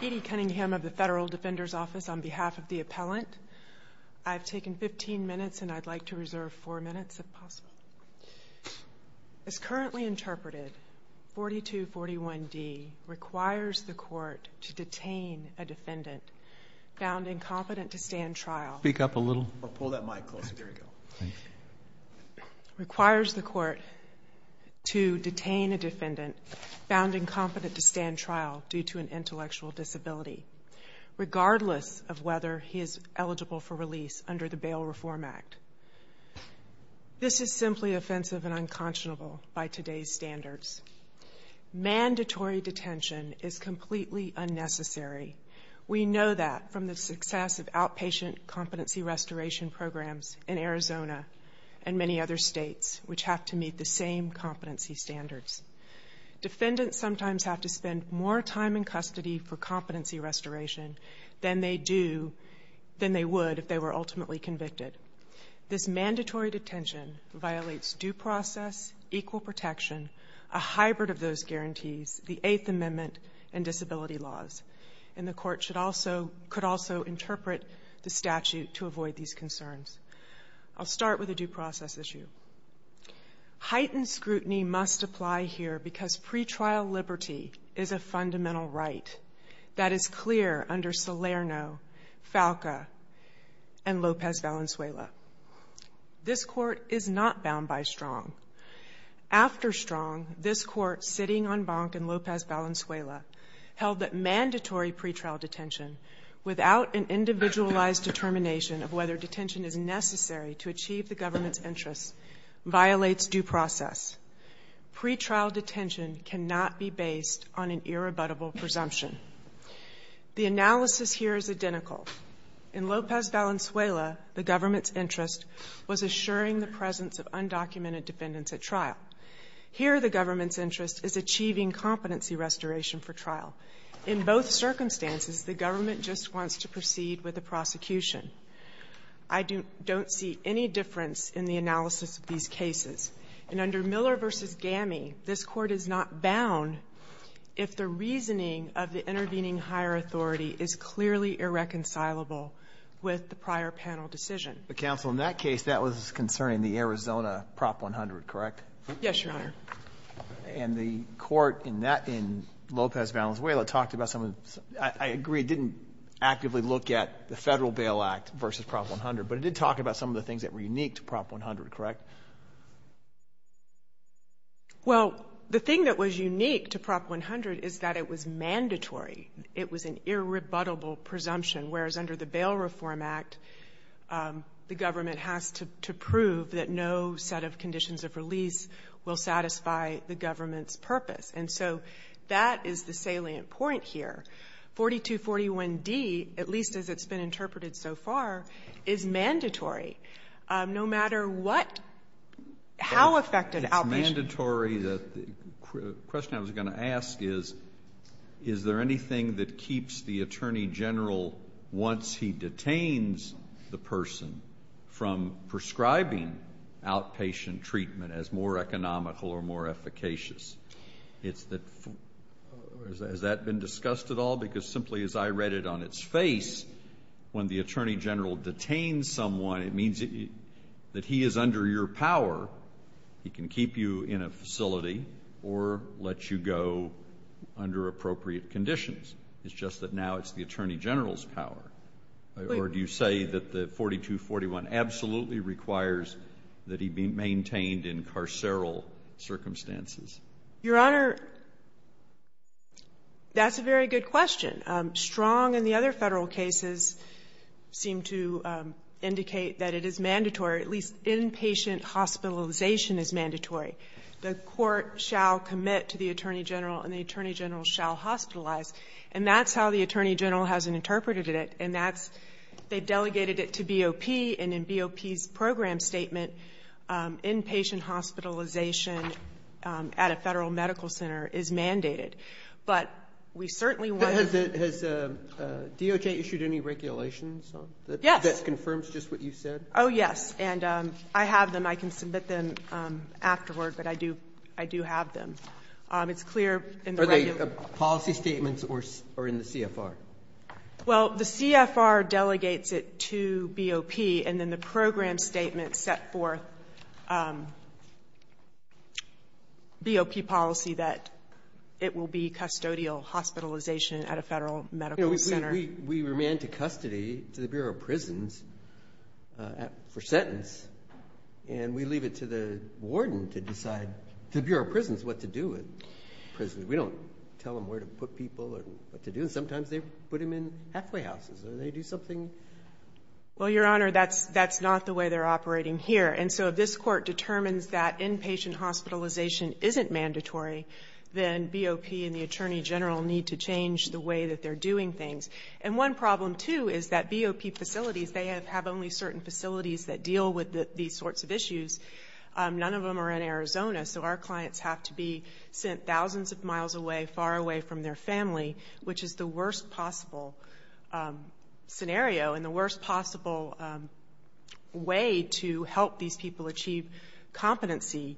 Petey Cunningham of the Federal Defender's Office on behalf of the appellant. I've taken 15 minutes and I'd like to reserve four minutes if possible. As currently interpreted, 4241 D requires the court to detain a defendant found incompetent to stand trial. Speak up a little. Pull that mic closer. There you go. Requires the court to detain a defendant found incompetent to stand trial due to an intellectual disability, regardless of whether he is eligible for release under the Bail Reform Act. This is simply offensive and unconscionable by today's standards. Mandatory detention is completely unnecessary. We know that from the success of outpatient competency restoration programs in Arizona and many other states which have to meet the same competency standards. Defendants sometimes have to spend more time in custody for competency restoration than they would if they were ultimately convicted. This mandatory detention violates due process, equal protection, a hybrid of those guarantees, the Eighth Amendment, and disability laws. And the court could also interpret the statute to avoid these concerns. I'll start with a due process issue. Heightened scrutiny must apply here because pretrial liberty is a fundamental right that is clear under Salerno, Falca, and Lopez Valenzuela. This court is not bound by Strong. After Strong, this court sitting on Bank and Lopez Valenzuela held that mandatory pretrial detention without an individualized determination of whether detention is necessary to achieve the government's interests violates due process. Pretrial detention cannot be based on an irrebuttable presumption. The analysis here is identical. In Lopez Valenzuela, the government's interest was assuring the presence of undocumented defendants at trial. Here, the government's interest is achieving competency restoration for trial. In both circumstances, the government just wants to proceed with the prosecution. I don't see any difference in the analysis of these cases. And under Miller v. Gami, this court is not bound if the reasoning of the intervening higher authority is clearly irreconcilable with the prior panel decision. But counsel, in that case, that was concerning the Arizona Prop 100, correct? Yes, Your Honor. And the court in that, in Lopez Valenzuela, talked about some of the, I agree, didn't actively look at the Federal Bail Act versus Prop 100, but it did talk about some of the things that were unique to Prop 100, correct? Well, the thing that was unique to Prop 100 is that it was mandatory. It was an irrebuttable presumption, whereas under the Bail Reform Act, the government has to prove that no set of conditions of release will satisfy the government's purpose. And so that is the salient point here. 4241d, at least as it's been interpreted so far, is mandatory, no matter what, how affected outpatient treatment is. It's mandatory. The question I was going to ask is, is there anything that keeps the Attorney General, once he detains the person, from prescribing outpatient treatment as more economical or more efficacious? Has that been discussed at all? Because simply as I read it on its face, when the Attorney General detains someone, it means that he is under your power. He can keep you in a facility or let you go under appropriate conditions. It's just that now it's the Attorney General's power. Or do you say that the 4241 absolutely requires that he be maintained in carceral circumstances? Your Honor, that's a very good question. Strong and the other Federal cases seem to indicate that it is mandatory, at least inpatient hospitalization is mandatory. The court shall commit to the Attorney General and the Attorney General shall hospitalize. And that's how the Attorney General has interpreted it. And that's they delegated it to BOP, and in BOP's program statement, inpatient hospitalization at a Federal medical center is mandated. But we certainly want to Has DOJ issued any regulations that confirms just what you said? Yes. And I have them. I can submit them afterward, but I do have them. It's clear Are they policy statements or in the CFR? Well, the CFR delegates it to BOP, and then the program statement set forth, BOP policy that it will be custodial hospitalization at a Federal medical center. We remand to custody, to the Bureau of Prisons, for sentence, and we leave it to the warden to decide, to the Bureau of Prisons, what to do with prisoners. We don't tell them where to put people or what to do. And sometimes they put them in halfway houses, or they do something Well, Your Honor, that's not the way they're operating here. And so if this Court determines that inpatient hospitalization isn't mandatory, then BOP and the Attorney General need to change the way that they're doing things. And one problem, too, is that BOP facilities, they have only certain facilities that deal with these sorts of issues. None of them are in Arizona. So our clients have to be sent thousands of miles away, far away from their family, which is the worst possible scenario and the worst possible way to help these people achieve competency,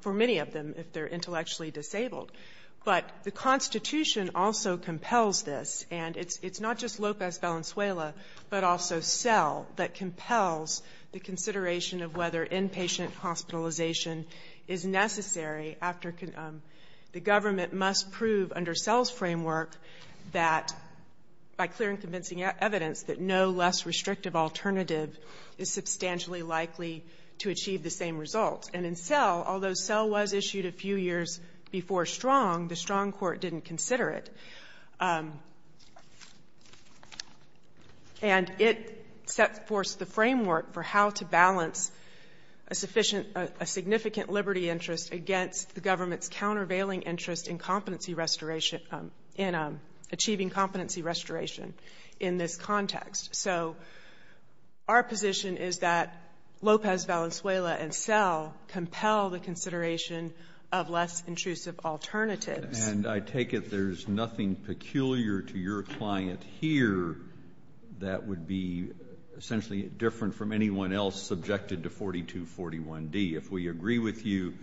for many of them, if they're intellectually disabled. But the Constitution also compels this. And it's not just Lopez Valenzuela, but also SELL that compels the consideration of whether inpatient hospitalization is necessary after the government must prove under SELL's framework that, by clear and convincing evidence, that no less restrictive alternative is substantially likely to achieve the same result. And in SELL, although SELL was issued a few years before STRONG, the STRONG Court didn't consider it. And it set forth the framework for how to balance a sufficient, a significant liberty interest against the government's countervailing interest in competency restoration in achieving competency restoration in this context. So our position is that Lopez Valenzuela and SELL compel the consideration of less intrusive alternatives. And I take it there's nothing peculiar to your client here that would be essentially different from anyone else subjected to 4241D. If we agree with you,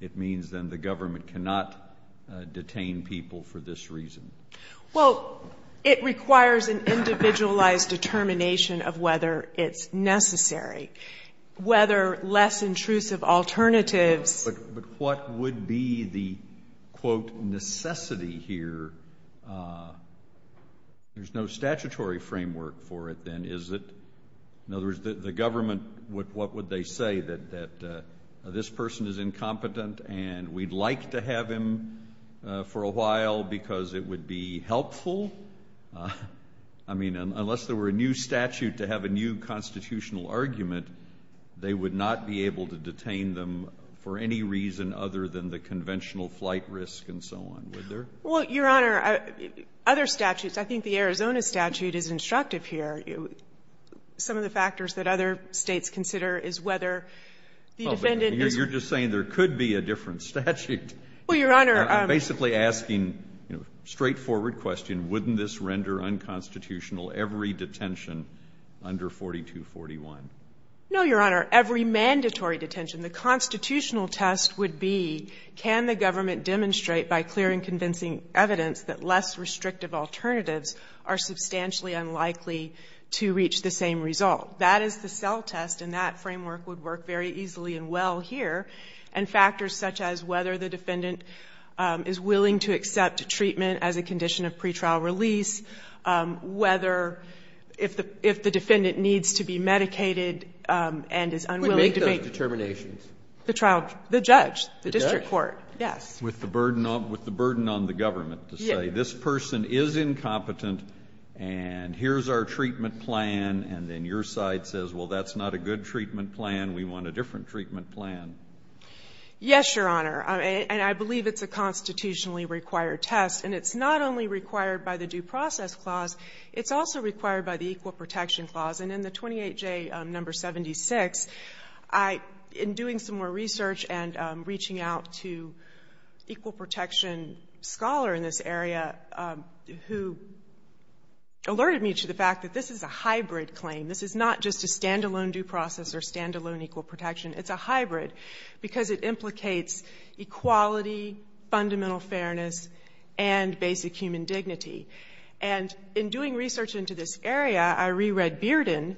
it means then the government cannot detain people for this reason. Well, it requires an individualized determination of whether it's necessary. Whether less intrusive alternatives But what would be the, quote, necessity here? There's no statutory framework for it, then, is it? In other words, the government, what would they say? That this person is incompetent and we'd like to have him for a while because it would be helpful? I mean, unless there were a new statute to have a new constitutional argument, they would not be able to detain them for any reason other than the conventional flight risk and so on, would there? Well, Your Honor, other statutes, I think the Arizona statute is instructive here. Some of the factors that other States consider is whether the defendant is You're just saying there could be a different statute. Well, Your Honor I'm basically asking, you know, a straightforward question. Wouldn't this render unconstitutional every detention under 4241? No, Your Honor. Every mandatory detention. The constitutional test would be can the government demonstrate by clear and convincing evidence that less restrictive alternatives are substantially unlikely to reach the same result. That is the cell test, and that would be the case here. And factors such as whether the defendant is willing to accept treatment as a condition of pretrial release, whether, if the defendant needs to be medicated and is unwilling to make determinations. Who would make those determinations? The trial judge. The judge. The district court, yes. With the burden on the government to say, this person is incompetent, and here's our treatment plan, and then your side says, well, that's not a good treatment plan. Yes, Your Honor. And I believe it's a constitutionally required test. And it's not only required by the Due Process Clause. It's also required by the Equal Protection Clause. And in the 28J, number 76, I, in doing some more research and reaching out to equal protection scholar in this area who alerted me to the fact that this is a hybrid claim. This is not just a standalone due process or standalone equal protection. It's a hybrid because it implicates equality, fundamental fairness, and basic human dignity. And in doing research into this area, I reread Bearden.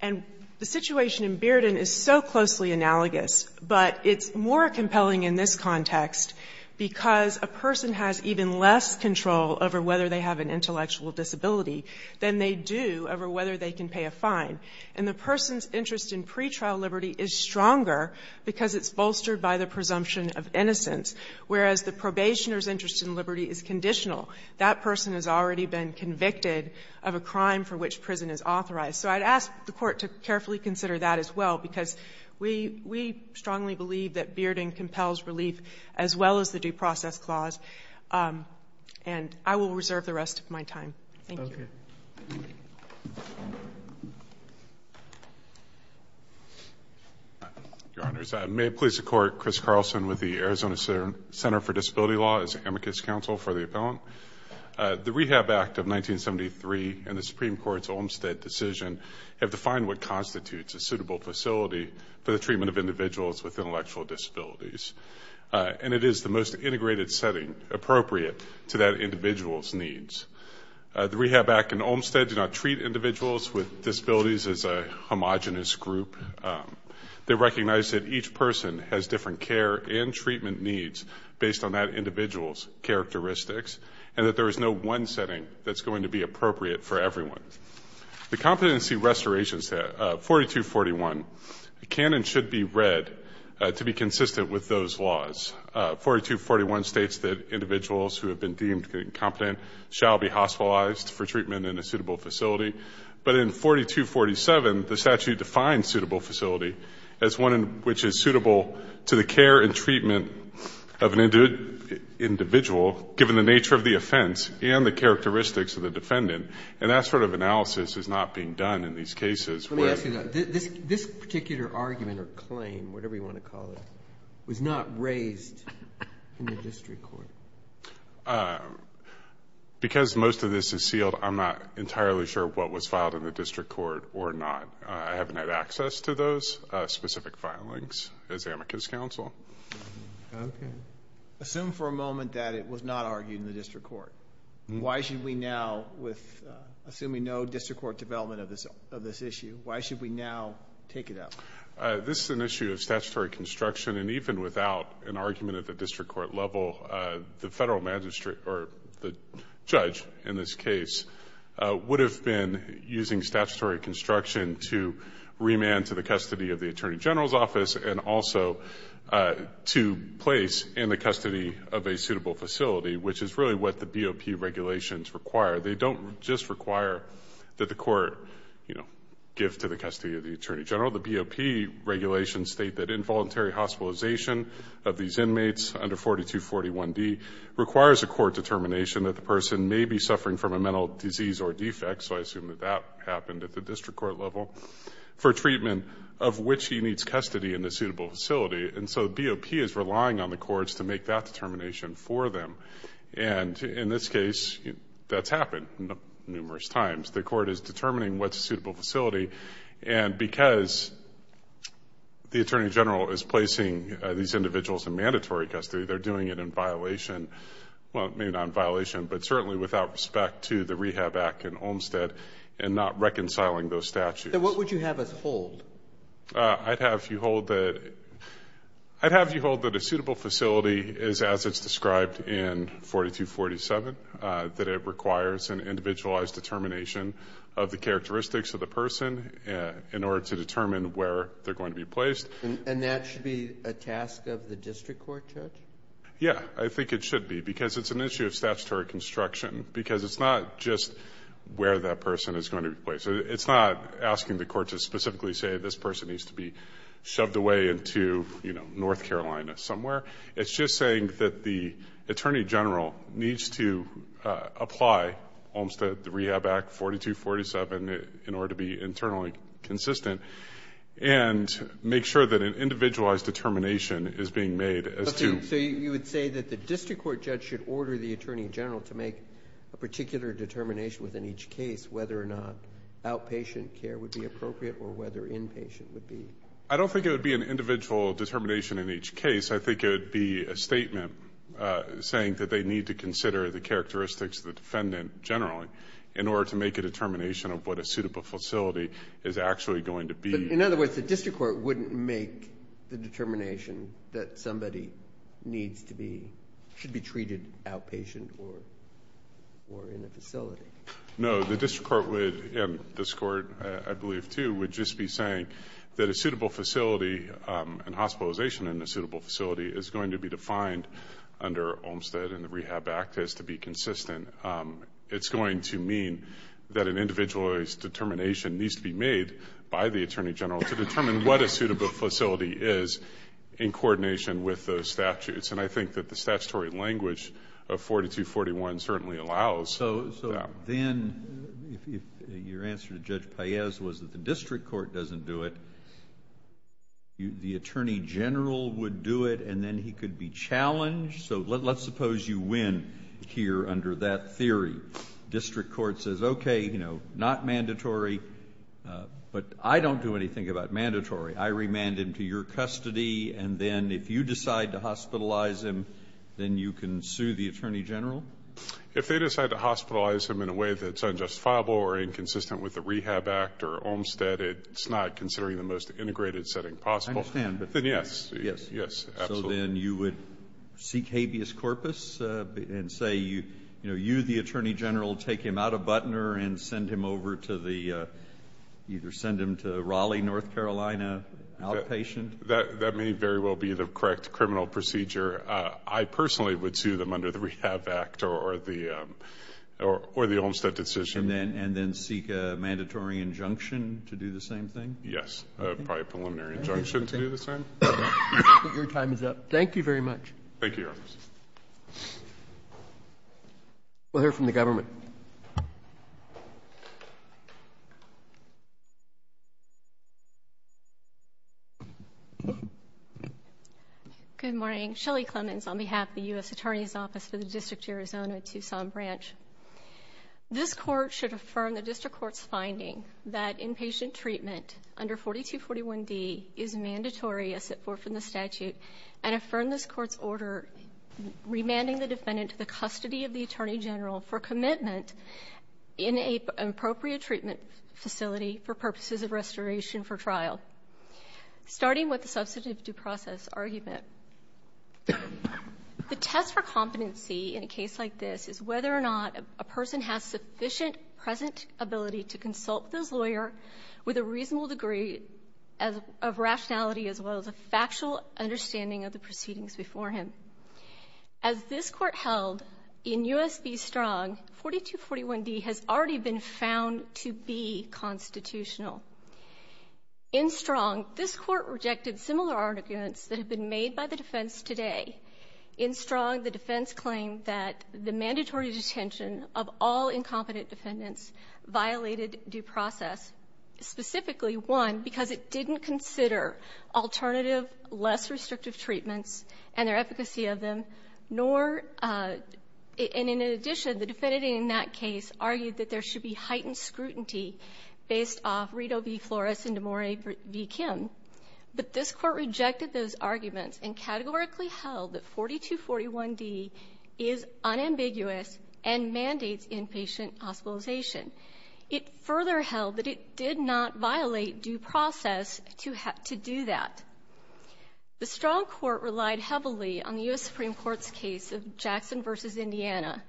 And the situation in Bearden is so closely analogous, but it's more compelling in this context because a person has even less control over whether they have an intellectual disability than they do over whether they can pay a fine. And the person's interest in pretrial liberty is stronger because it's bolstered by the presumption of innocence, whereas the probationer's interest in liberty is conditional. That person has already been convicted of a crime for which prison is authorized. So I'd ask the Court to carefully consider that as well, because we strongly believe that Bearden compels relief as well as the Due Process Clause. And I will reserve the rest of my time. Thank you. Your Honors, may it please the Court, Chris Carlson with the Arizona Center for Disability Law as amicus counsel for the appellant. The Rehab Act of 1973 and the Supreme Court's Olmstead decision have defined what constitutes a suitable facility for the treatment of individuals with intellectual disabilities. And it is the most integrated setting appropriate to that individual's needs. The Rehab Act and Olmstead do not treat individuals with disabilities as a homogenous group. They recognize that each person has different care and treatment needs based on that individual's characteristics, and that there is no one setting that's going to be appropriate for everyone. The Competency Restoration Stat, 4241, can and should be consistent with those laws. 4241 states that individuals who have been deemed incompetent shall be hospitalized for treatment in a suitable facility. But in 4247, the statute defines suitable facility as one in which is suitable to the care and treatment of an individual, given the nature of the offense and the characteristics of the defendant. And that sort of analysis is not being done in these cases. Let me ask you that. This particular argument or claim, whatever you want to call it, was not raised in the district court. Because most of this is sealed, I'm not entirely sure what was filed in the district court or not. I haven't had access to those specific filings as amicus counsel. Assume for a moment that it was not argued in the district court. Why should we now, assuming no district court development of this issue, why should we now take it up? This is an issue of statutory construction. And even without an argument at the district court level, the federal magistrate or the judge in this case would have been using statutory construction to remand to the custody of the Attorney General's office and also to place in the custody of a suitable facility, which is really what the BOP regulations require. They don't just require that the court, you know, give to the custody of the Attorney General. The BOP regulations state that involuntary hospitalization of these inmates under 4241D requires a court determination that the person may be suffering from a mental disease or defect, so I assume that that happened at the district court level, for treatment of which he needs custody in a suitable facility. And so BOP is relying on the courts to make that determination for them. And in this case, that's happened numerous times. The court is determining what's a suitable facility, and because the Attorney General is placing these individuals in mandatory custody, they're doing it in violation, well, maybe not in violation, but certainly without respect to the Rehab Act in Olmstead and not reconciling those statutes. So what would you have us hold? I'd have you hold that a suitable facility is as it's described in 4247, that it requires an individualized determination of the characteristics of the person in order to determine where they're going to be placed. And that should be a task of the district court judge? Yeah, I think it should be, because it's an issue of statutory construction, because it's not just where that person is going to be placed. It's not asking the court to specifically say this person needs to be shoved away into, you know, North Carolina somewhere. It's just saying that the Attorney General needs to apply Olmstead Rehab Act 4247 in order to be internally consistent and make sure that an individualized determination is being made as to So you would say that the district court judge should order the Attorney General to make a particular determination within each case whether or not outpatient care would be appropriate or whether inpatient would be I don't think it would be an individual determination in each case. I think it would be a statement saying that they need to consider the characteristics of the defendant generally in order to make a determination of what a suitable facility is actually going to be. In other words, the district court wouldn't make the determination that somebody needs to be, should be treated outpatient or in a facility? No, the district court would, and this court I believe too, would just be saying that a determination that we find under Olmstead and the Rehab Act has to be consistent. It's going to mean that an individualized determination needs to be made by the Attorney General to determine what a suitable facility is in coordination with those statutes. And I think that the statutory language of 4241 certainly allows So then, your answer to Judge Paez was that the district court doesn't do it. The Attorney General would do it and then he could be challenged. So let's suppose you win here under that theory. District court says, okay, you know, not mandatory, but I don't do anything about mandatory. I remand him to your custody and then if you decide to hospitalize him, then you can sue the Attorney General? If they decide to hospitalize him in a way that's unjustifiable or inconsistent with the Rehab Act or Olmstead, it's not considering the most integrated setting possible. I understand. Then yes. So then you would seek habeas corpus and say, you know, you the Attorney General take him out of Butner and send him over to the, either send him to Raleigh, North Carolina, outpatient? That may very well be the correct criminal procedure. I personally would sue them under the Rehab Act or the Olmstead decision. And then seek a mandatory injunction to do the same thing? Yes, probably a preliminary injunction to do the same. Your time is up. Thank you very much. Thank you, Your Honor. We'll hear from the government. Good morning. Shelley Clemens on behalf of the U.S. Attorney's Office for the District of Arizona, Tucson Branch. This court should affirm the district court's finding that inpatient treatment under 4241D is mandatory as set forth in the statute, and affirm this court's order remanding the defendant to the custody of the Attorney General for commitment in an appropriate treatment facility for purposes of restoration for trial, starting with the substantive due process argument. The test for competency in a case like this is whether or not a person has sufficient present ability to consult with his lawyer with a reasonable degree of rationality as well as a factual understanding of the proceedings before him. As this Court held in U.S. v. Strong, 4241D has already been found to be constitutional. In Strong, this Court rejected similar arguments that have been made by the defense today. In Strong, the defense claimed that the mandatory detention of all incompetent defendants violated due process, specifically, one, because it didn't consider alternative, less restrictive treatments and their efficacy of them, nor, and in addition, the defendant in that case argued that there should be heightened scrutiny based off Rito v. Flores and Demore v. Kim. But this Court rejected those arguments and categorically held that 4241D is unambiguous and mandates inpatient hospitalization. It further held that it did not violate due process to do that. The Strong Court relied heavily on the U.S. Supreme Court's case of Jackson v. Indiana,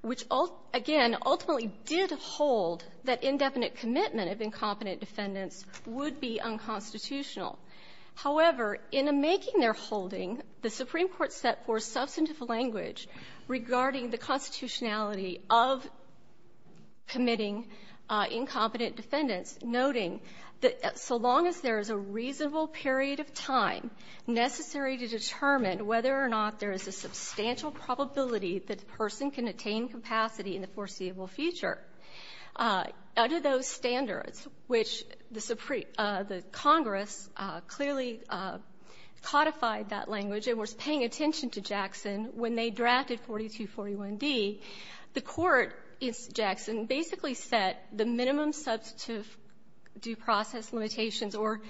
which, again, ultimately did hold that indefinite commitment of incompetent defendants would be unconstitutional. However, in a making their holding, the Supreme Court set forth substantive language regarding the constitutionality of committing incompetent defendants, noting that so long as there is a reasonable period of time necessary to determine whether or not there is a substantial probability that the person can attain capacity in the foreseeable future. Under those standards, which the Congress clearly codified that language and was paying attention to Jackson when they drafted 4241D, the Court in Jackson basically set the minimum substantive due process limitations or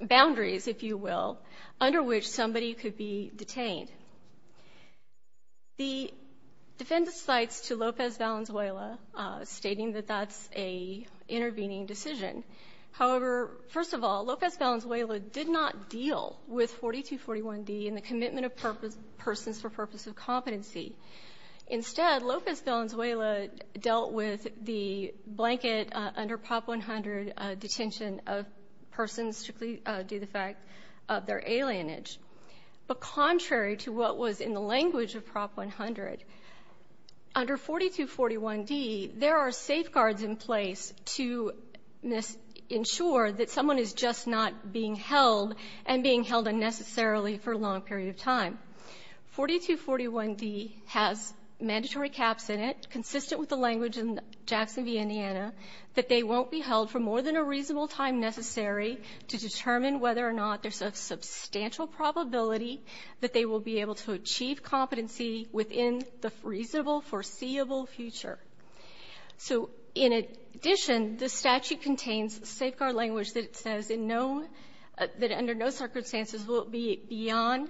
boundaries, if you will, under which somebody could be detained. The defendant cites to Lopez-Valenzuela, stating that that's an intervening decision. However, first of all, Lopez-Valenzuela did not deal with 4241D and the commitment of persons for purpose of competency. Instead, Lopez-Valenzuela dealt with the blanket under Prop 100 detention of persons who did not do the fact of their alienage. But contrary to what was in the language of Prop 100, under 4241D, there are safeguards in place to ensure that someone is just not being held and being held unnecessarily for a long period of time. 4241D has mandatory caps in it, consistent with the language in Jackson v. Indiana, that they won't be held for more than a reasonable time necessary to determine whether or not there's a substantial probability that they will be able to achieve competency within the reasonable foreseeable future. So in addition, the statute contains safeguard language that says in no --" that under no circumstances will it be beyond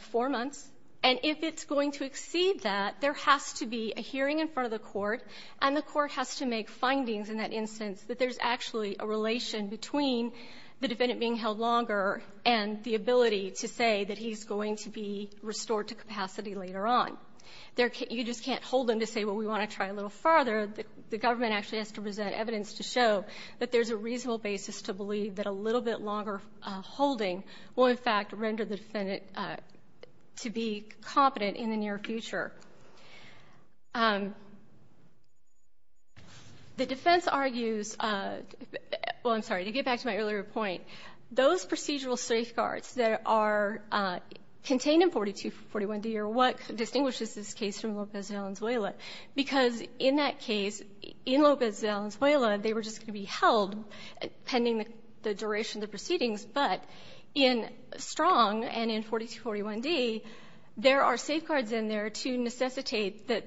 four months. And if it's going to exceed that, there has to be a hearing in front of the Court, and the Court has to make findings in that instance that there's actually a relation between the defendant being held longer and the ability to say that he's going to be restored to capacity later on. You just can't hold him to say, well, we want to try a little farther. The government actually has to present evidence to show that there's a reasonable basis to believe that a little bit longer holding will, in fact, render the defendant to be competent in the near future. The defense argues, well, I'm sorry, to get back to my earlier point, those procedural safeguards that are contained in 4241D are what distinguishes this case from Lopez de Alenzuela, because in that case, in Lopez de Alenzuela, they were just going to be held pending the duration of the proceedings, but in Strong and in 4241D, there are safeguards in there to necessitate that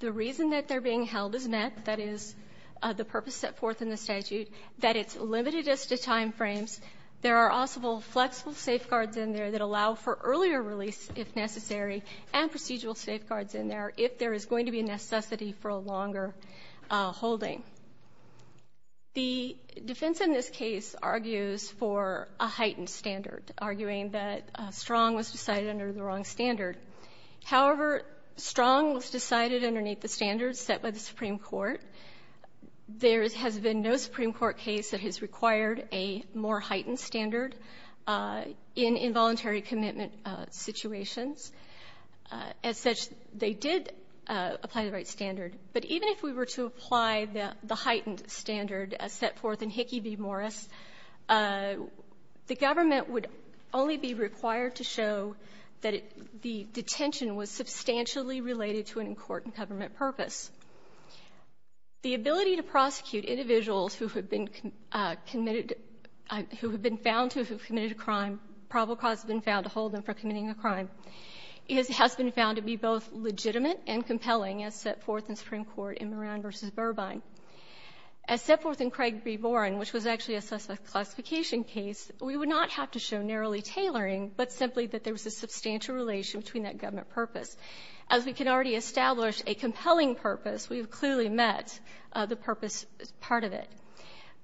the reason that they're being held is met, that is, the purpose set forth in the statute, that it's limited as to timeframes. There are also flexible safeguards in there that allow for earlier release, if necessary, and procedural safeguards in there if there is going to be a necessity for a longer holding. The defense in this case argues for a heightened standard, arguing that Strong was decided under the wrong standard. However, Strong was decided underneath the standards set by the Supreme Court. There has been no Supreme Court case that has required a more heightened standard in involuntary commitment situations. As such, they did apply the right standard. But even if we were to apply the heightened standard set forth in Hickey v. Morris, the government would only be required to show that the detention was substantially related to an in-court and government purpose. The ability to prosecute individuals who have been committed, who have been found to have committed a crime, probable cause has been found to hold them for committing a crime, has been found to be both legitimate and compelling as set forth in Supreme Court in Moran v. Burbine. As set forth in Craig v. Boren, which was actually a classification case, we would not have to show narrowly tailoring, but simply that there was a substantial relation between that government purpose. As we can already establish a compelling purpose, we have clearly met the purpose part of it.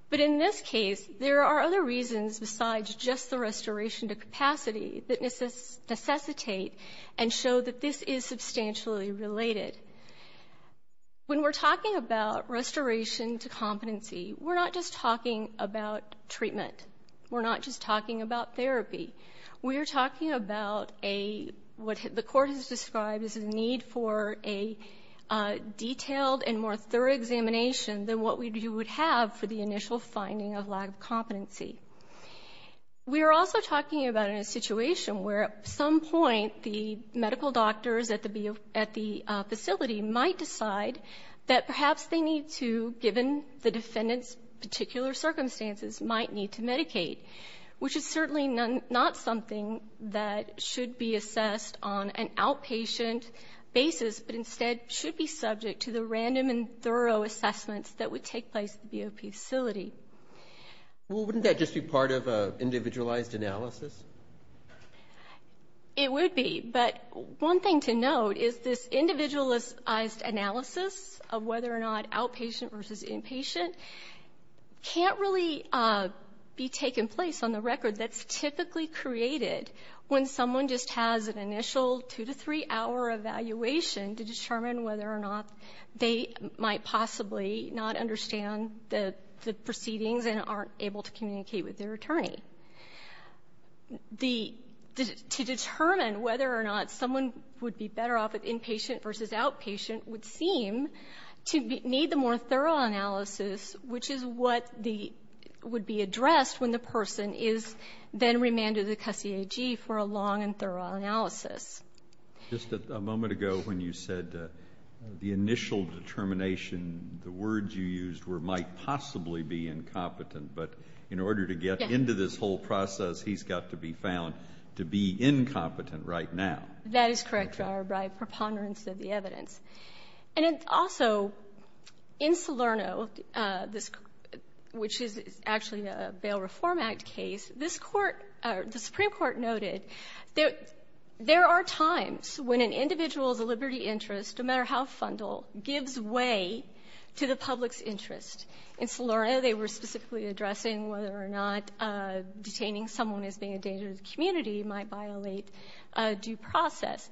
But in this case, there are other reasons besides just the restoration to capacity that necessitate and show that this restoration to competency, we're not just talking about treatment. We're not just talking about therapy. We are talking about a what the Court has described as a need for a detailed and more thorough examination than what we would have for the initial finding of lack of competency. We are also talking about a situation where at some point the medical doctors at the facility might decide that perhaps they need to, given the defendant's particular circumstances, might need to medicate, which is certainly not something that should be assessed on an outpatient basis, but instead should be subject to the random and thorough assessments that would take place at the BOP facility. Well, wouldn't that just be part of an individualized analysis? It would be. But one thing to note is this individualized analysis of whether or not outpatient versus inpatient can't really be taken place on the record that's typically created when someone just has an initial two- to three-hour evaluation to determine whether or not they might possibly not understand the proceedings and aren't able to communicate with their attorney. The to determine whether or not someone would be better off inpatient versus outpatient would seem to need the more thorough analysis, which is what the would be addressed when the person is then remanded to the CUSC AG for a long and thorough analysis. Just a moment ago when you said the initial determination, the words you used were incompetent. But in order to get into this whole process, he's got to be found to be incompetent right now. That is correct, Your Honor, by preponderance of the evidence. And also, in Salerno, which is actually a Bail Reform Act case, this Court or the Supreme Court noted there are times when an individual's liberty interest, no matter how fundal, gives way to the public's interest. In Salerno, they were specifically addressing whether or not detaining someone as being a danger to the community might violate due process.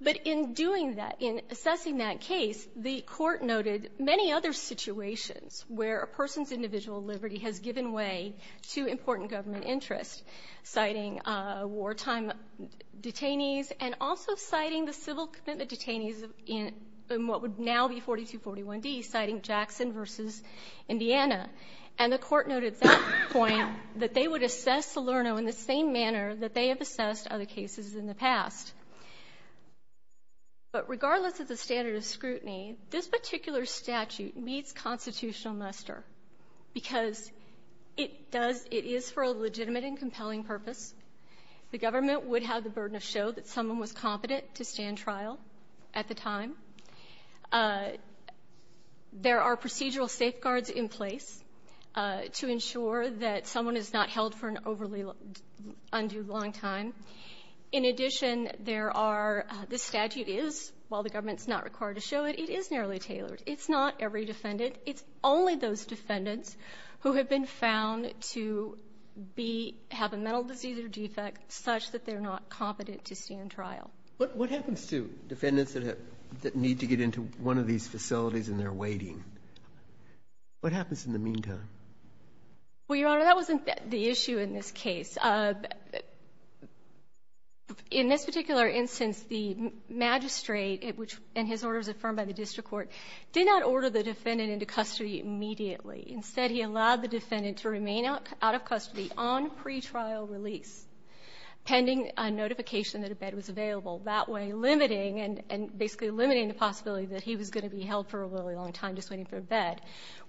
But in doing that, in assessing that case, the Court noted many other situations where a person's individual liberty has given way to important government interest, citing wartime detainees and also citing the civil commitment detainees in the what would now be 4241D, citing Jackson v. Indiana. And the Court noted that point, that they would assess Salerno in the same manner that they have assessed other cases in the past. But regardless of the standard of scrutiny, this particular statute meets constitutional muster because it does — it is for a legitimate and compelling purpose. The government would have the burden of show that someone was competent to stand trial at the time. There are procedural safeguards in place to ensure that someone is not held for an overly undue long time. In addition, there are — this statute is, while the government's not required to show it, it is narrowly tailored. It's not every defendant. It's only those defendants who have been found to be — have a mental disease or defect such that they're not competent to stand trial. What happens to defendants that need to get into one of these facilities and they're waiting? What happens in the meantime? Well, Your Honor, that wasn't the issue in this case. In this particular instance, the magistrate, which in his orders affirmed by the district court, did not order the defendant into custody immediately. Instead, he allowed the defendant to remain out of custody on pretrial release pending a notification that a bed was available, that way limiting and basically limiting the possibility that he was going to be held for a really long time just waiting for a bed,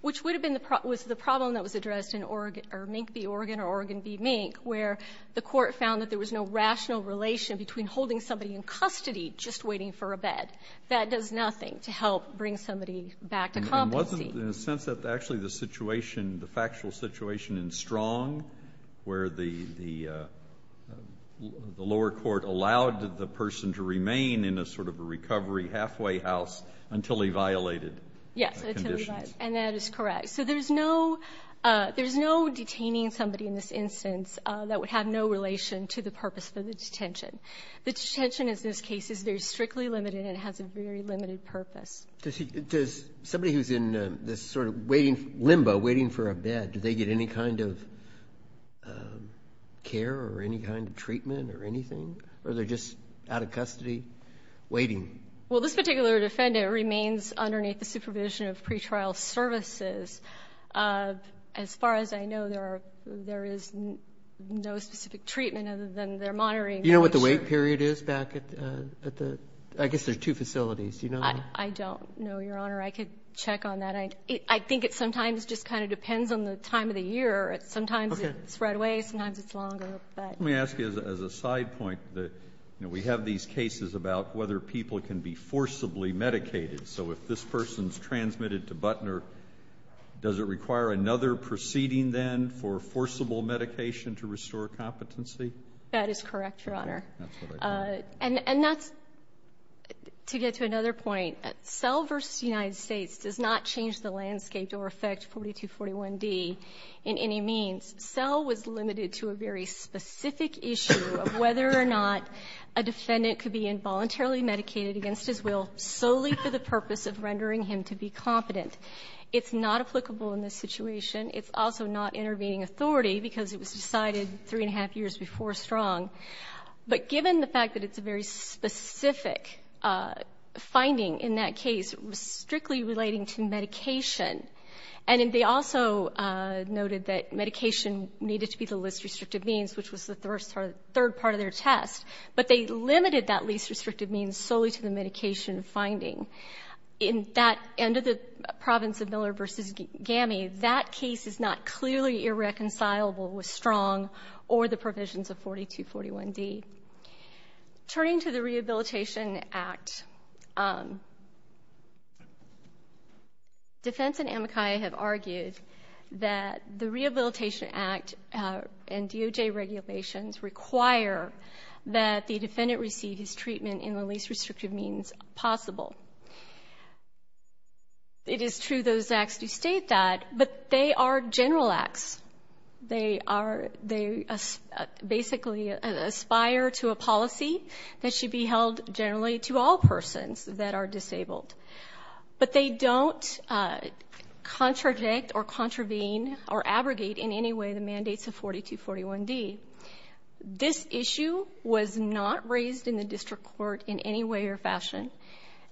which would have been the — was the problem that was addressed in Org — or Mink v. Oregon or Oregon v. Mink, where the court found that there was no rational relation between holding somebody in custody just waiting for a bed. That does nothing to help bring somebody back to competency. In a sense that actually the situation, the factual situation in Strong, where the lower court allowed the person to remain in a sort of a recovery halfway house until he violated conditions. Yes, until he violated, and that is correct. So there's no — there's no detaining somebody in this instance that would have no relation to the purpose for the detention. The detention in this case is very strictly limited and has a very limited purpose. Does he — does somebody who's in this sort of waiting — limbo, waiting for a bed, do they get any kind of care or any kind of treatment or anything? Or are they just out of custody waiting? Well, this particular defendant remains underneath the supervision of pretrial services. As far as I know, there are — there is no specific treatment other than they're monitoring — Do you know what the wait period is back at the — I guess there's two facilities. Do you know? I don't know, Your Honor. I could check on that. I think it sometimes just kind of depends on the time of the year. Sometimes it's right away. Sometimes it's longer, but — Let me ask you as a side point that, you know, we have these cases about whether people can be forcibly medicated. So if this person's transmitted to Butner, does it require another proceeding then for forcible medication to restore competency? That is correct, Your Honor. That's what I got. And that's — to get to another point, SEL v. United States does not change the landscape or affect 4241D in any means. SEL was limited to a very specific issue of whether or not a defendant could be involuntarily medicated against his will solely for the purpose of rendering him to be competent. It's not applicable in this situation. It's also not intervening authority because it was decided three-and-a-half years before Strong. But given the fact that it's a very specific finding in that case, strictly relating to medication, and they also noted that medication needed to be the least restrictive means, which was the third part of their test, but they limited that least restrictive means solely to the medication finding, in that end of the province of Miller v. GAMI, that case is not clearly irreconcilable with Strong or the provisions of 4241D. Turning to the Rehabilitation Act, defense and amicai have argued that the Rehabilitation Act and DOJ regulations require that the defendant receive his treatment in the least restrictive means possible. It is true those acts do state that, but they are general acts. They are they basically aspire to a policy that should be held generally to all persons that are disabled. But they don't contradict or contravene or abrogate in any way the mandates of 4241D. This issue was not raised in the district court in any way or fashion.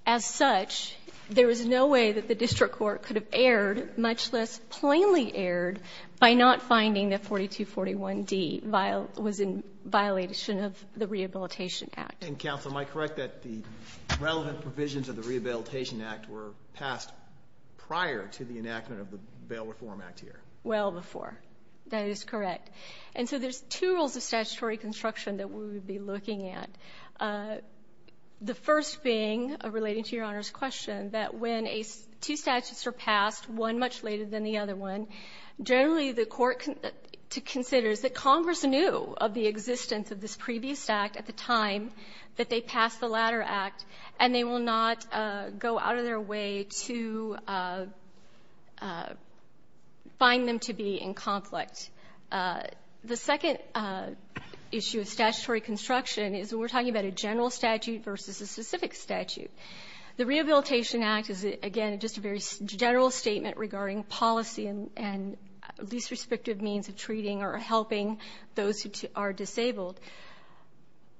As such, there was no way that the district court could have erred, much less plainly erred, by not finding that 4241D was in violation of the Rehabilitation Act. And, Counsel, am I correct that the relevant provisions of the Rehabilitation Act were passed prior to the enactment of the Bail Reform Act here? Well before. That is correct. And so there's two rules of statutory construction that we would be looking at. The first being, relating to Your Honor's question, that when two statutes are passed, one much later than the other one, generally the court considers that Congress knew of the existence of this previous act at the time that they passed the latter act, and they will not go out of their way to find them to be in conflict. The second issue of statutory construction is when we're talking about a general statute versus a specific statute. The Rehabilitation Act is, again, just a very general statement regarding policy and least respective means of treating or helping those who are disabled.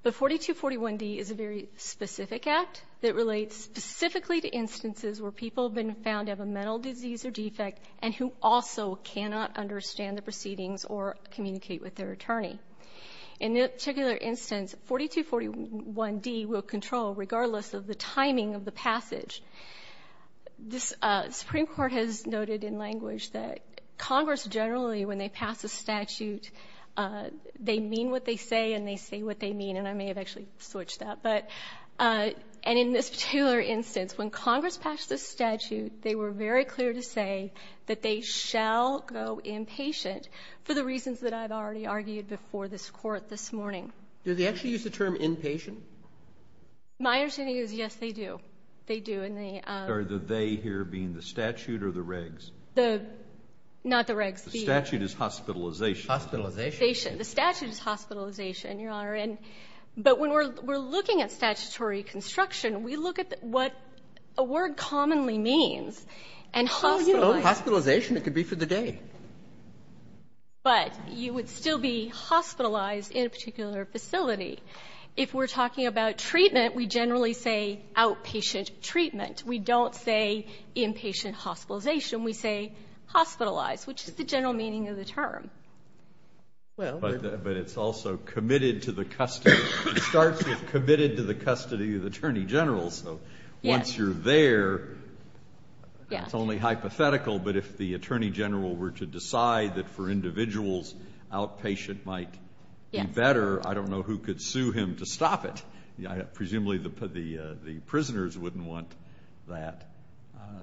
But 4241D is a very specific act that relates specifically to instances where people have been found to have a mental disease or defect and who also cannot understand the proceedings or communicate with their attorney. In this particular instance, 4241D will control regardless of the timing of the passage. The Supreme Court has noted in language that Congress generally, when they pass a statute, they mean what they say and they say what they mean, and I may have actually switched that. But and in this particular instance, when Congress passed this statute, they were very clear to say that they shall go inpatient for the reasons that I've already argued before this Court this morning. Do they actually use the term inpatient? My understanding is, yes, they do. They do in the ‑‑ Are the they here being the statute or the regs? The ‑‑ not the regs. The statute is hospitalization. Hospitalization. The statute is hospitalization, Your Honor. And but when we're looking at statutory construction, we look at what a word commonly means and hospitalization. Hospitalization, it could be for the day. But you would still be hospitalized in a particular facility. If we're talking about treatment, we generally say outpatient treatment. We don't say inpatient hospitalization. We say hospitalized, which is the general meaning of the term. Well, but it's also committed to the custody. It starts with committed to the custody of the attorney general. So once you're there, it's only hypothetical. But if the attorney general were to decide that for individuals outpatient might be better, I don't know who could sue him to stop it. Presumably the prisoners wouldn't want that.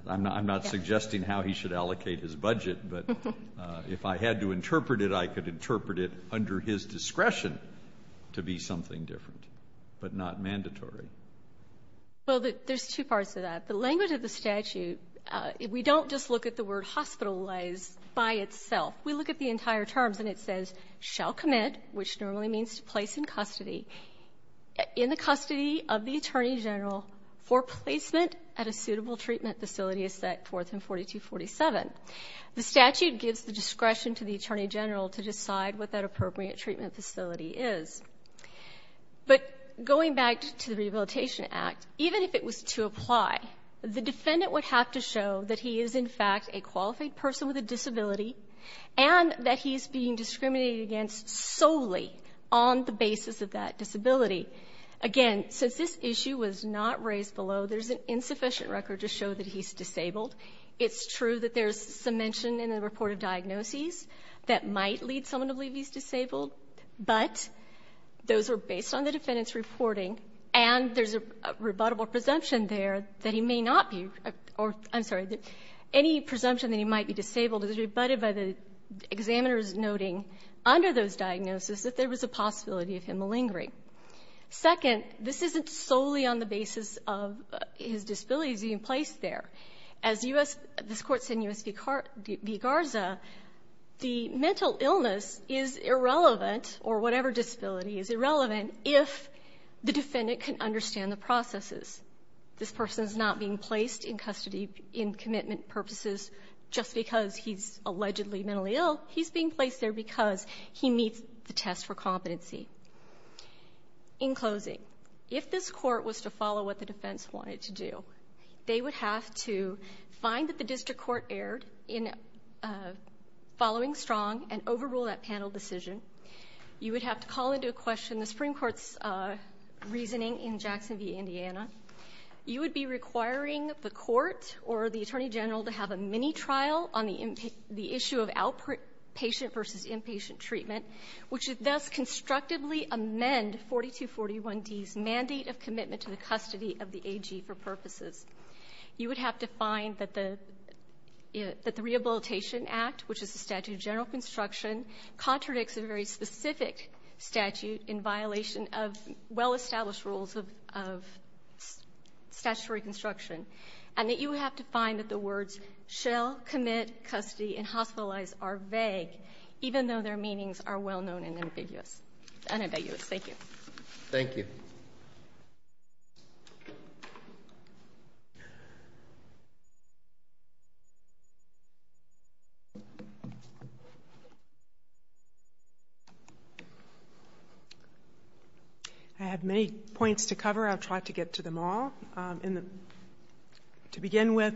I'm not suggesting how he should allocate his budget. But if I had to interpret it, I could interpret it under his discretion to be something different, but not mandatory. Well, there's two parts to that. The language of the statute, we don't just look at the word hospitalized by itself. We look at the entire terms, and it says shall commit, which normally means to place in custody, in the custody of the attorney general for placement at a suitable treatment facility as set forth in 4247. The statute gives the discretion to the attorney general to decide what that appropriate treatment facility is. But going back to the Rehabilitation Act, even if it was to apply, the defendant would have to show that he is, in fact, a qualified person with a disability and that he's being discriminated against solely on the basis of that disability. Again, since this issue was not raised below, there's an insufficient record to show that he's disabled. It's true that there's some mention in the report of diagnoses that might lead someone to believe he's disabled. But those are based on the defendant's reporting, and there's a rebuttable presumption there that he may not be, or I'm sorry, any presumption that he might be disabled is rebutted by the examiners noting under those diagnoses that there was a possibility of him malingering. Second, this isn't solely on the basis of his disability being placed there. As this Court said in U.S. v. Garza, the mental illness is irrelevant, or whatever disability is irrelevant, if the defendant can understand the processes. This person's not being placed in custody in commitment purposes just because he's allegedly mentally ill. He's being placed there because he meets the test for competency. In closing, if this Court was to follow what the defense wanted to do, they would have to find that the district court erred in following strong and overrule that panel decision. You would have to call into question the Supreme Court's reasoning in Jackson v. Indiana. You would be requiring the Court or the Attorney General to have a mini-trial on the issue of outpatient versus inpatient treatment, which would thus constructively amend 4241D's mandate of commitment to the custody of the AG for purposes. You would have to find that the Rehabilitation Act, which is a statute of general construction, contradicts a very specific statute in violation of well-established rules of statutory construction, and that you would have to find that the words shall, commit, custody, and hospitalize are vague, even though their meanings are well-known and ambiguous. Thank you. Thank you. I have many points to cover. I'll try to get to them all. To begin with,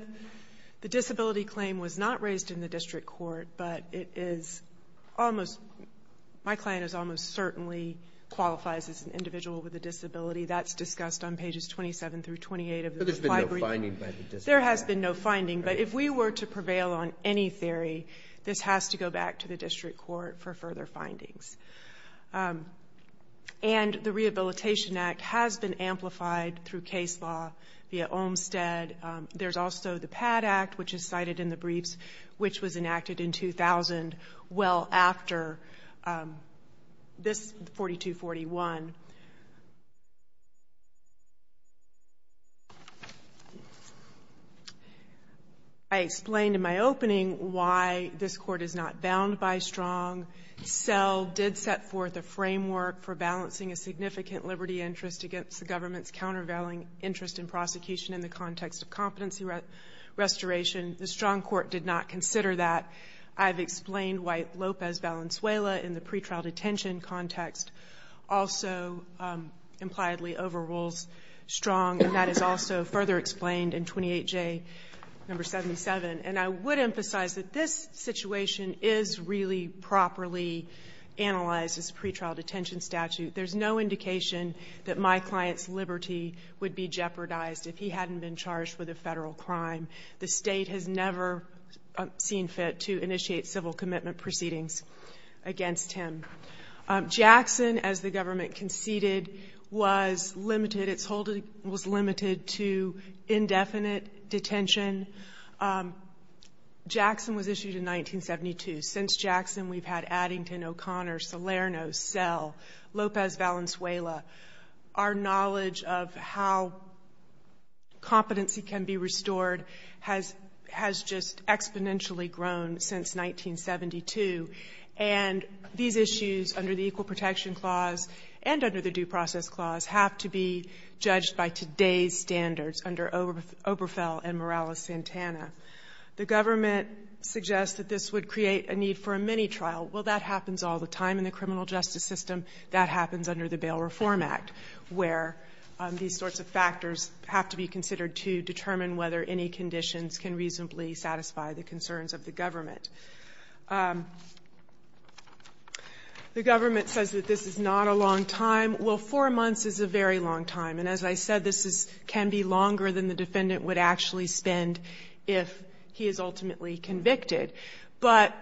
the disability claim was not raised in the district court, but it is almost, my claim is almost certainly qualifies as an individual with a disability. That's discussed on pages 27 through 28 of the reply brief. But there's been no finding by the district court. There has been no finding, but if we were to prevail on any theory, this has to go back to the district court for further findings. And the Rehabilitation Act has been amplified through case law via Olmstead. There's also the PAT Act, which is cited in the briefs, which was enacted in 2000 well after this 4241. I explained in my opening why this Court is not bound by Strong. SELL did set forth a framework for balancing a significant liberty interest against the government's countervailing interest in prosecution in the context of competency restoration. The Strong Court did not consider that. I've explained why Lopez Valenzuela, in the pretrial detention context, also impliedly overrules Strong, and that is also further explained in 28J No. 77. And I would emphasize that this situation is really properly analyzed as a pretrial detention statute. There's no indication that my client's liberty would be jeopardized if he hadn't been charged with a federal crime. The State has never seen fit to initiate civil commitment proceedings against him. Jackson, as the government conceded, was limited to indefinite detention. Jackson was issued in 1972. Since Jackson, we've had Addington, O'Connor, Salerno, SELL, Lopez Valenzuela. Our knowledge of how competency can be restored has just exponentially grown since 1972. And these issues under the Equal Protection Clause and under the Due Process Clause have to be judged by today's standards under Oberfell and Morales-Santana. The government suggests that this would create a need for a mini-trial. Well, that happens all the time in the criminal justice system. That happens under the Bail Reform Act, where these sorts of factors have to be considered to determine whether any conditions can reasonably satisfy the concerns of the government. The government says that this is not a long time. Well, four months is a very long time. And as I said, this is can be longer than the defendant would actually spend if he is ultimately convicted. But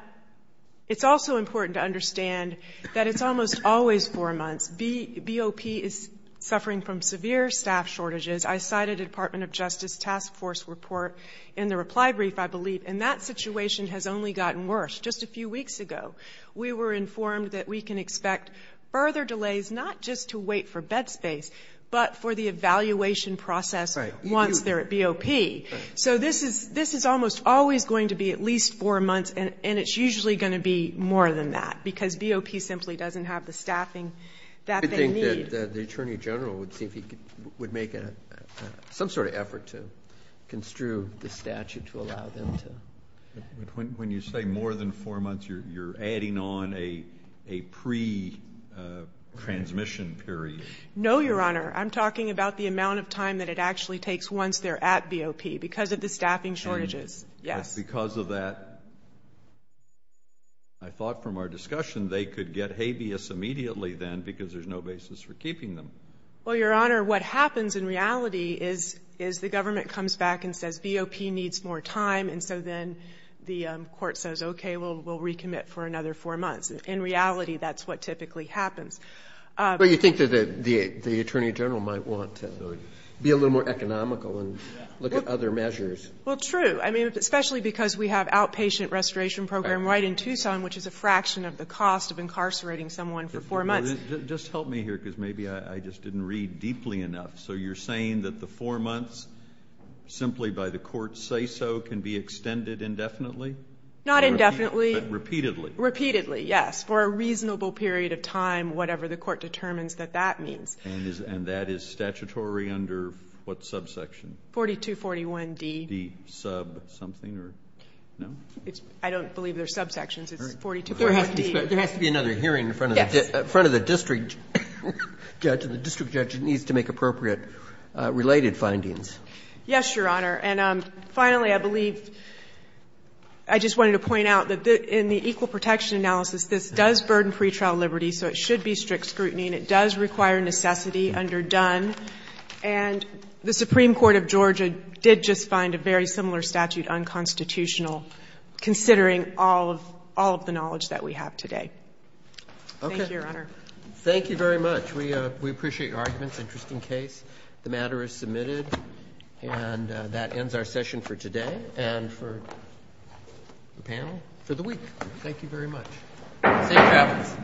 it's also important to understand that it's almost always four months. BOP is suffering from severe staff shortages. I cited a Department of Justice Task Force report in the reply brief, I believe, and that situation has only gotten worse. Just a few weeks ago, we were informed that we can expect further delays not just to wait for bed space, but for the evaluation process once they're at BOP. So this is almost always going to be at least four months, and it's usually going to be more than that, because BOP simply doesn't have the staffing that they need. I think that the Attorney General would make some sort of effort to construe the statute to allow them to. But when you say more than four months, you're adding on a pre-transmission period. No, Your Honor. I'm talking about the amount of time that it actually takes once they're at BOP because of the staffing shortages. Yes. And because of that, I thought from our discussion they could get habeas immediately then because there's no basis for keeping them. Well, Your Honor, what happens in reality is the government comes back and says BOP needs more time, and so then the court says, okay, we'll recommit for another four months. In reality, that's what typically happens. Well, you think that the Attorney General might want to be a little more economical and look at other measures. Well, true. I mean, especially because we have outpatient restoration program right in Tucson, which is a fraction of the cost of incarcerating someone for four months. Just help me here because maybe I just didn't read deeply enough. So you're saying that the four months simply by the court's say-so can be extended indefinitely? Not indefinitely. Repeatedly. Repeatedly, yes. For a reasonable period of time, whatever the court determines that that means. And that is statutory under what subsection? 4241D. D sub something or no? I don't believe there's subsections. It's 4241D. There has to be another hearing in front of the district judge and the district judge needs to make appropriate related findings. Yes, Your Honor. And finally, I believe I just wanted to point out that in the equal protection analysis, this does burden pretrial liberty, so it should be strict scrutiny, and it does require necessity under Dunn. And the Supreme Court of Georgia did just find a very similar statute unconstitutional considering all of the knowledge that we have today. Okay. Thank you, Your Honor. Thank you very much. We appreciate your arguments. Interesting case. And that ends our session for today and for the panel for the week. Thank you very much. Safe travels. All rise.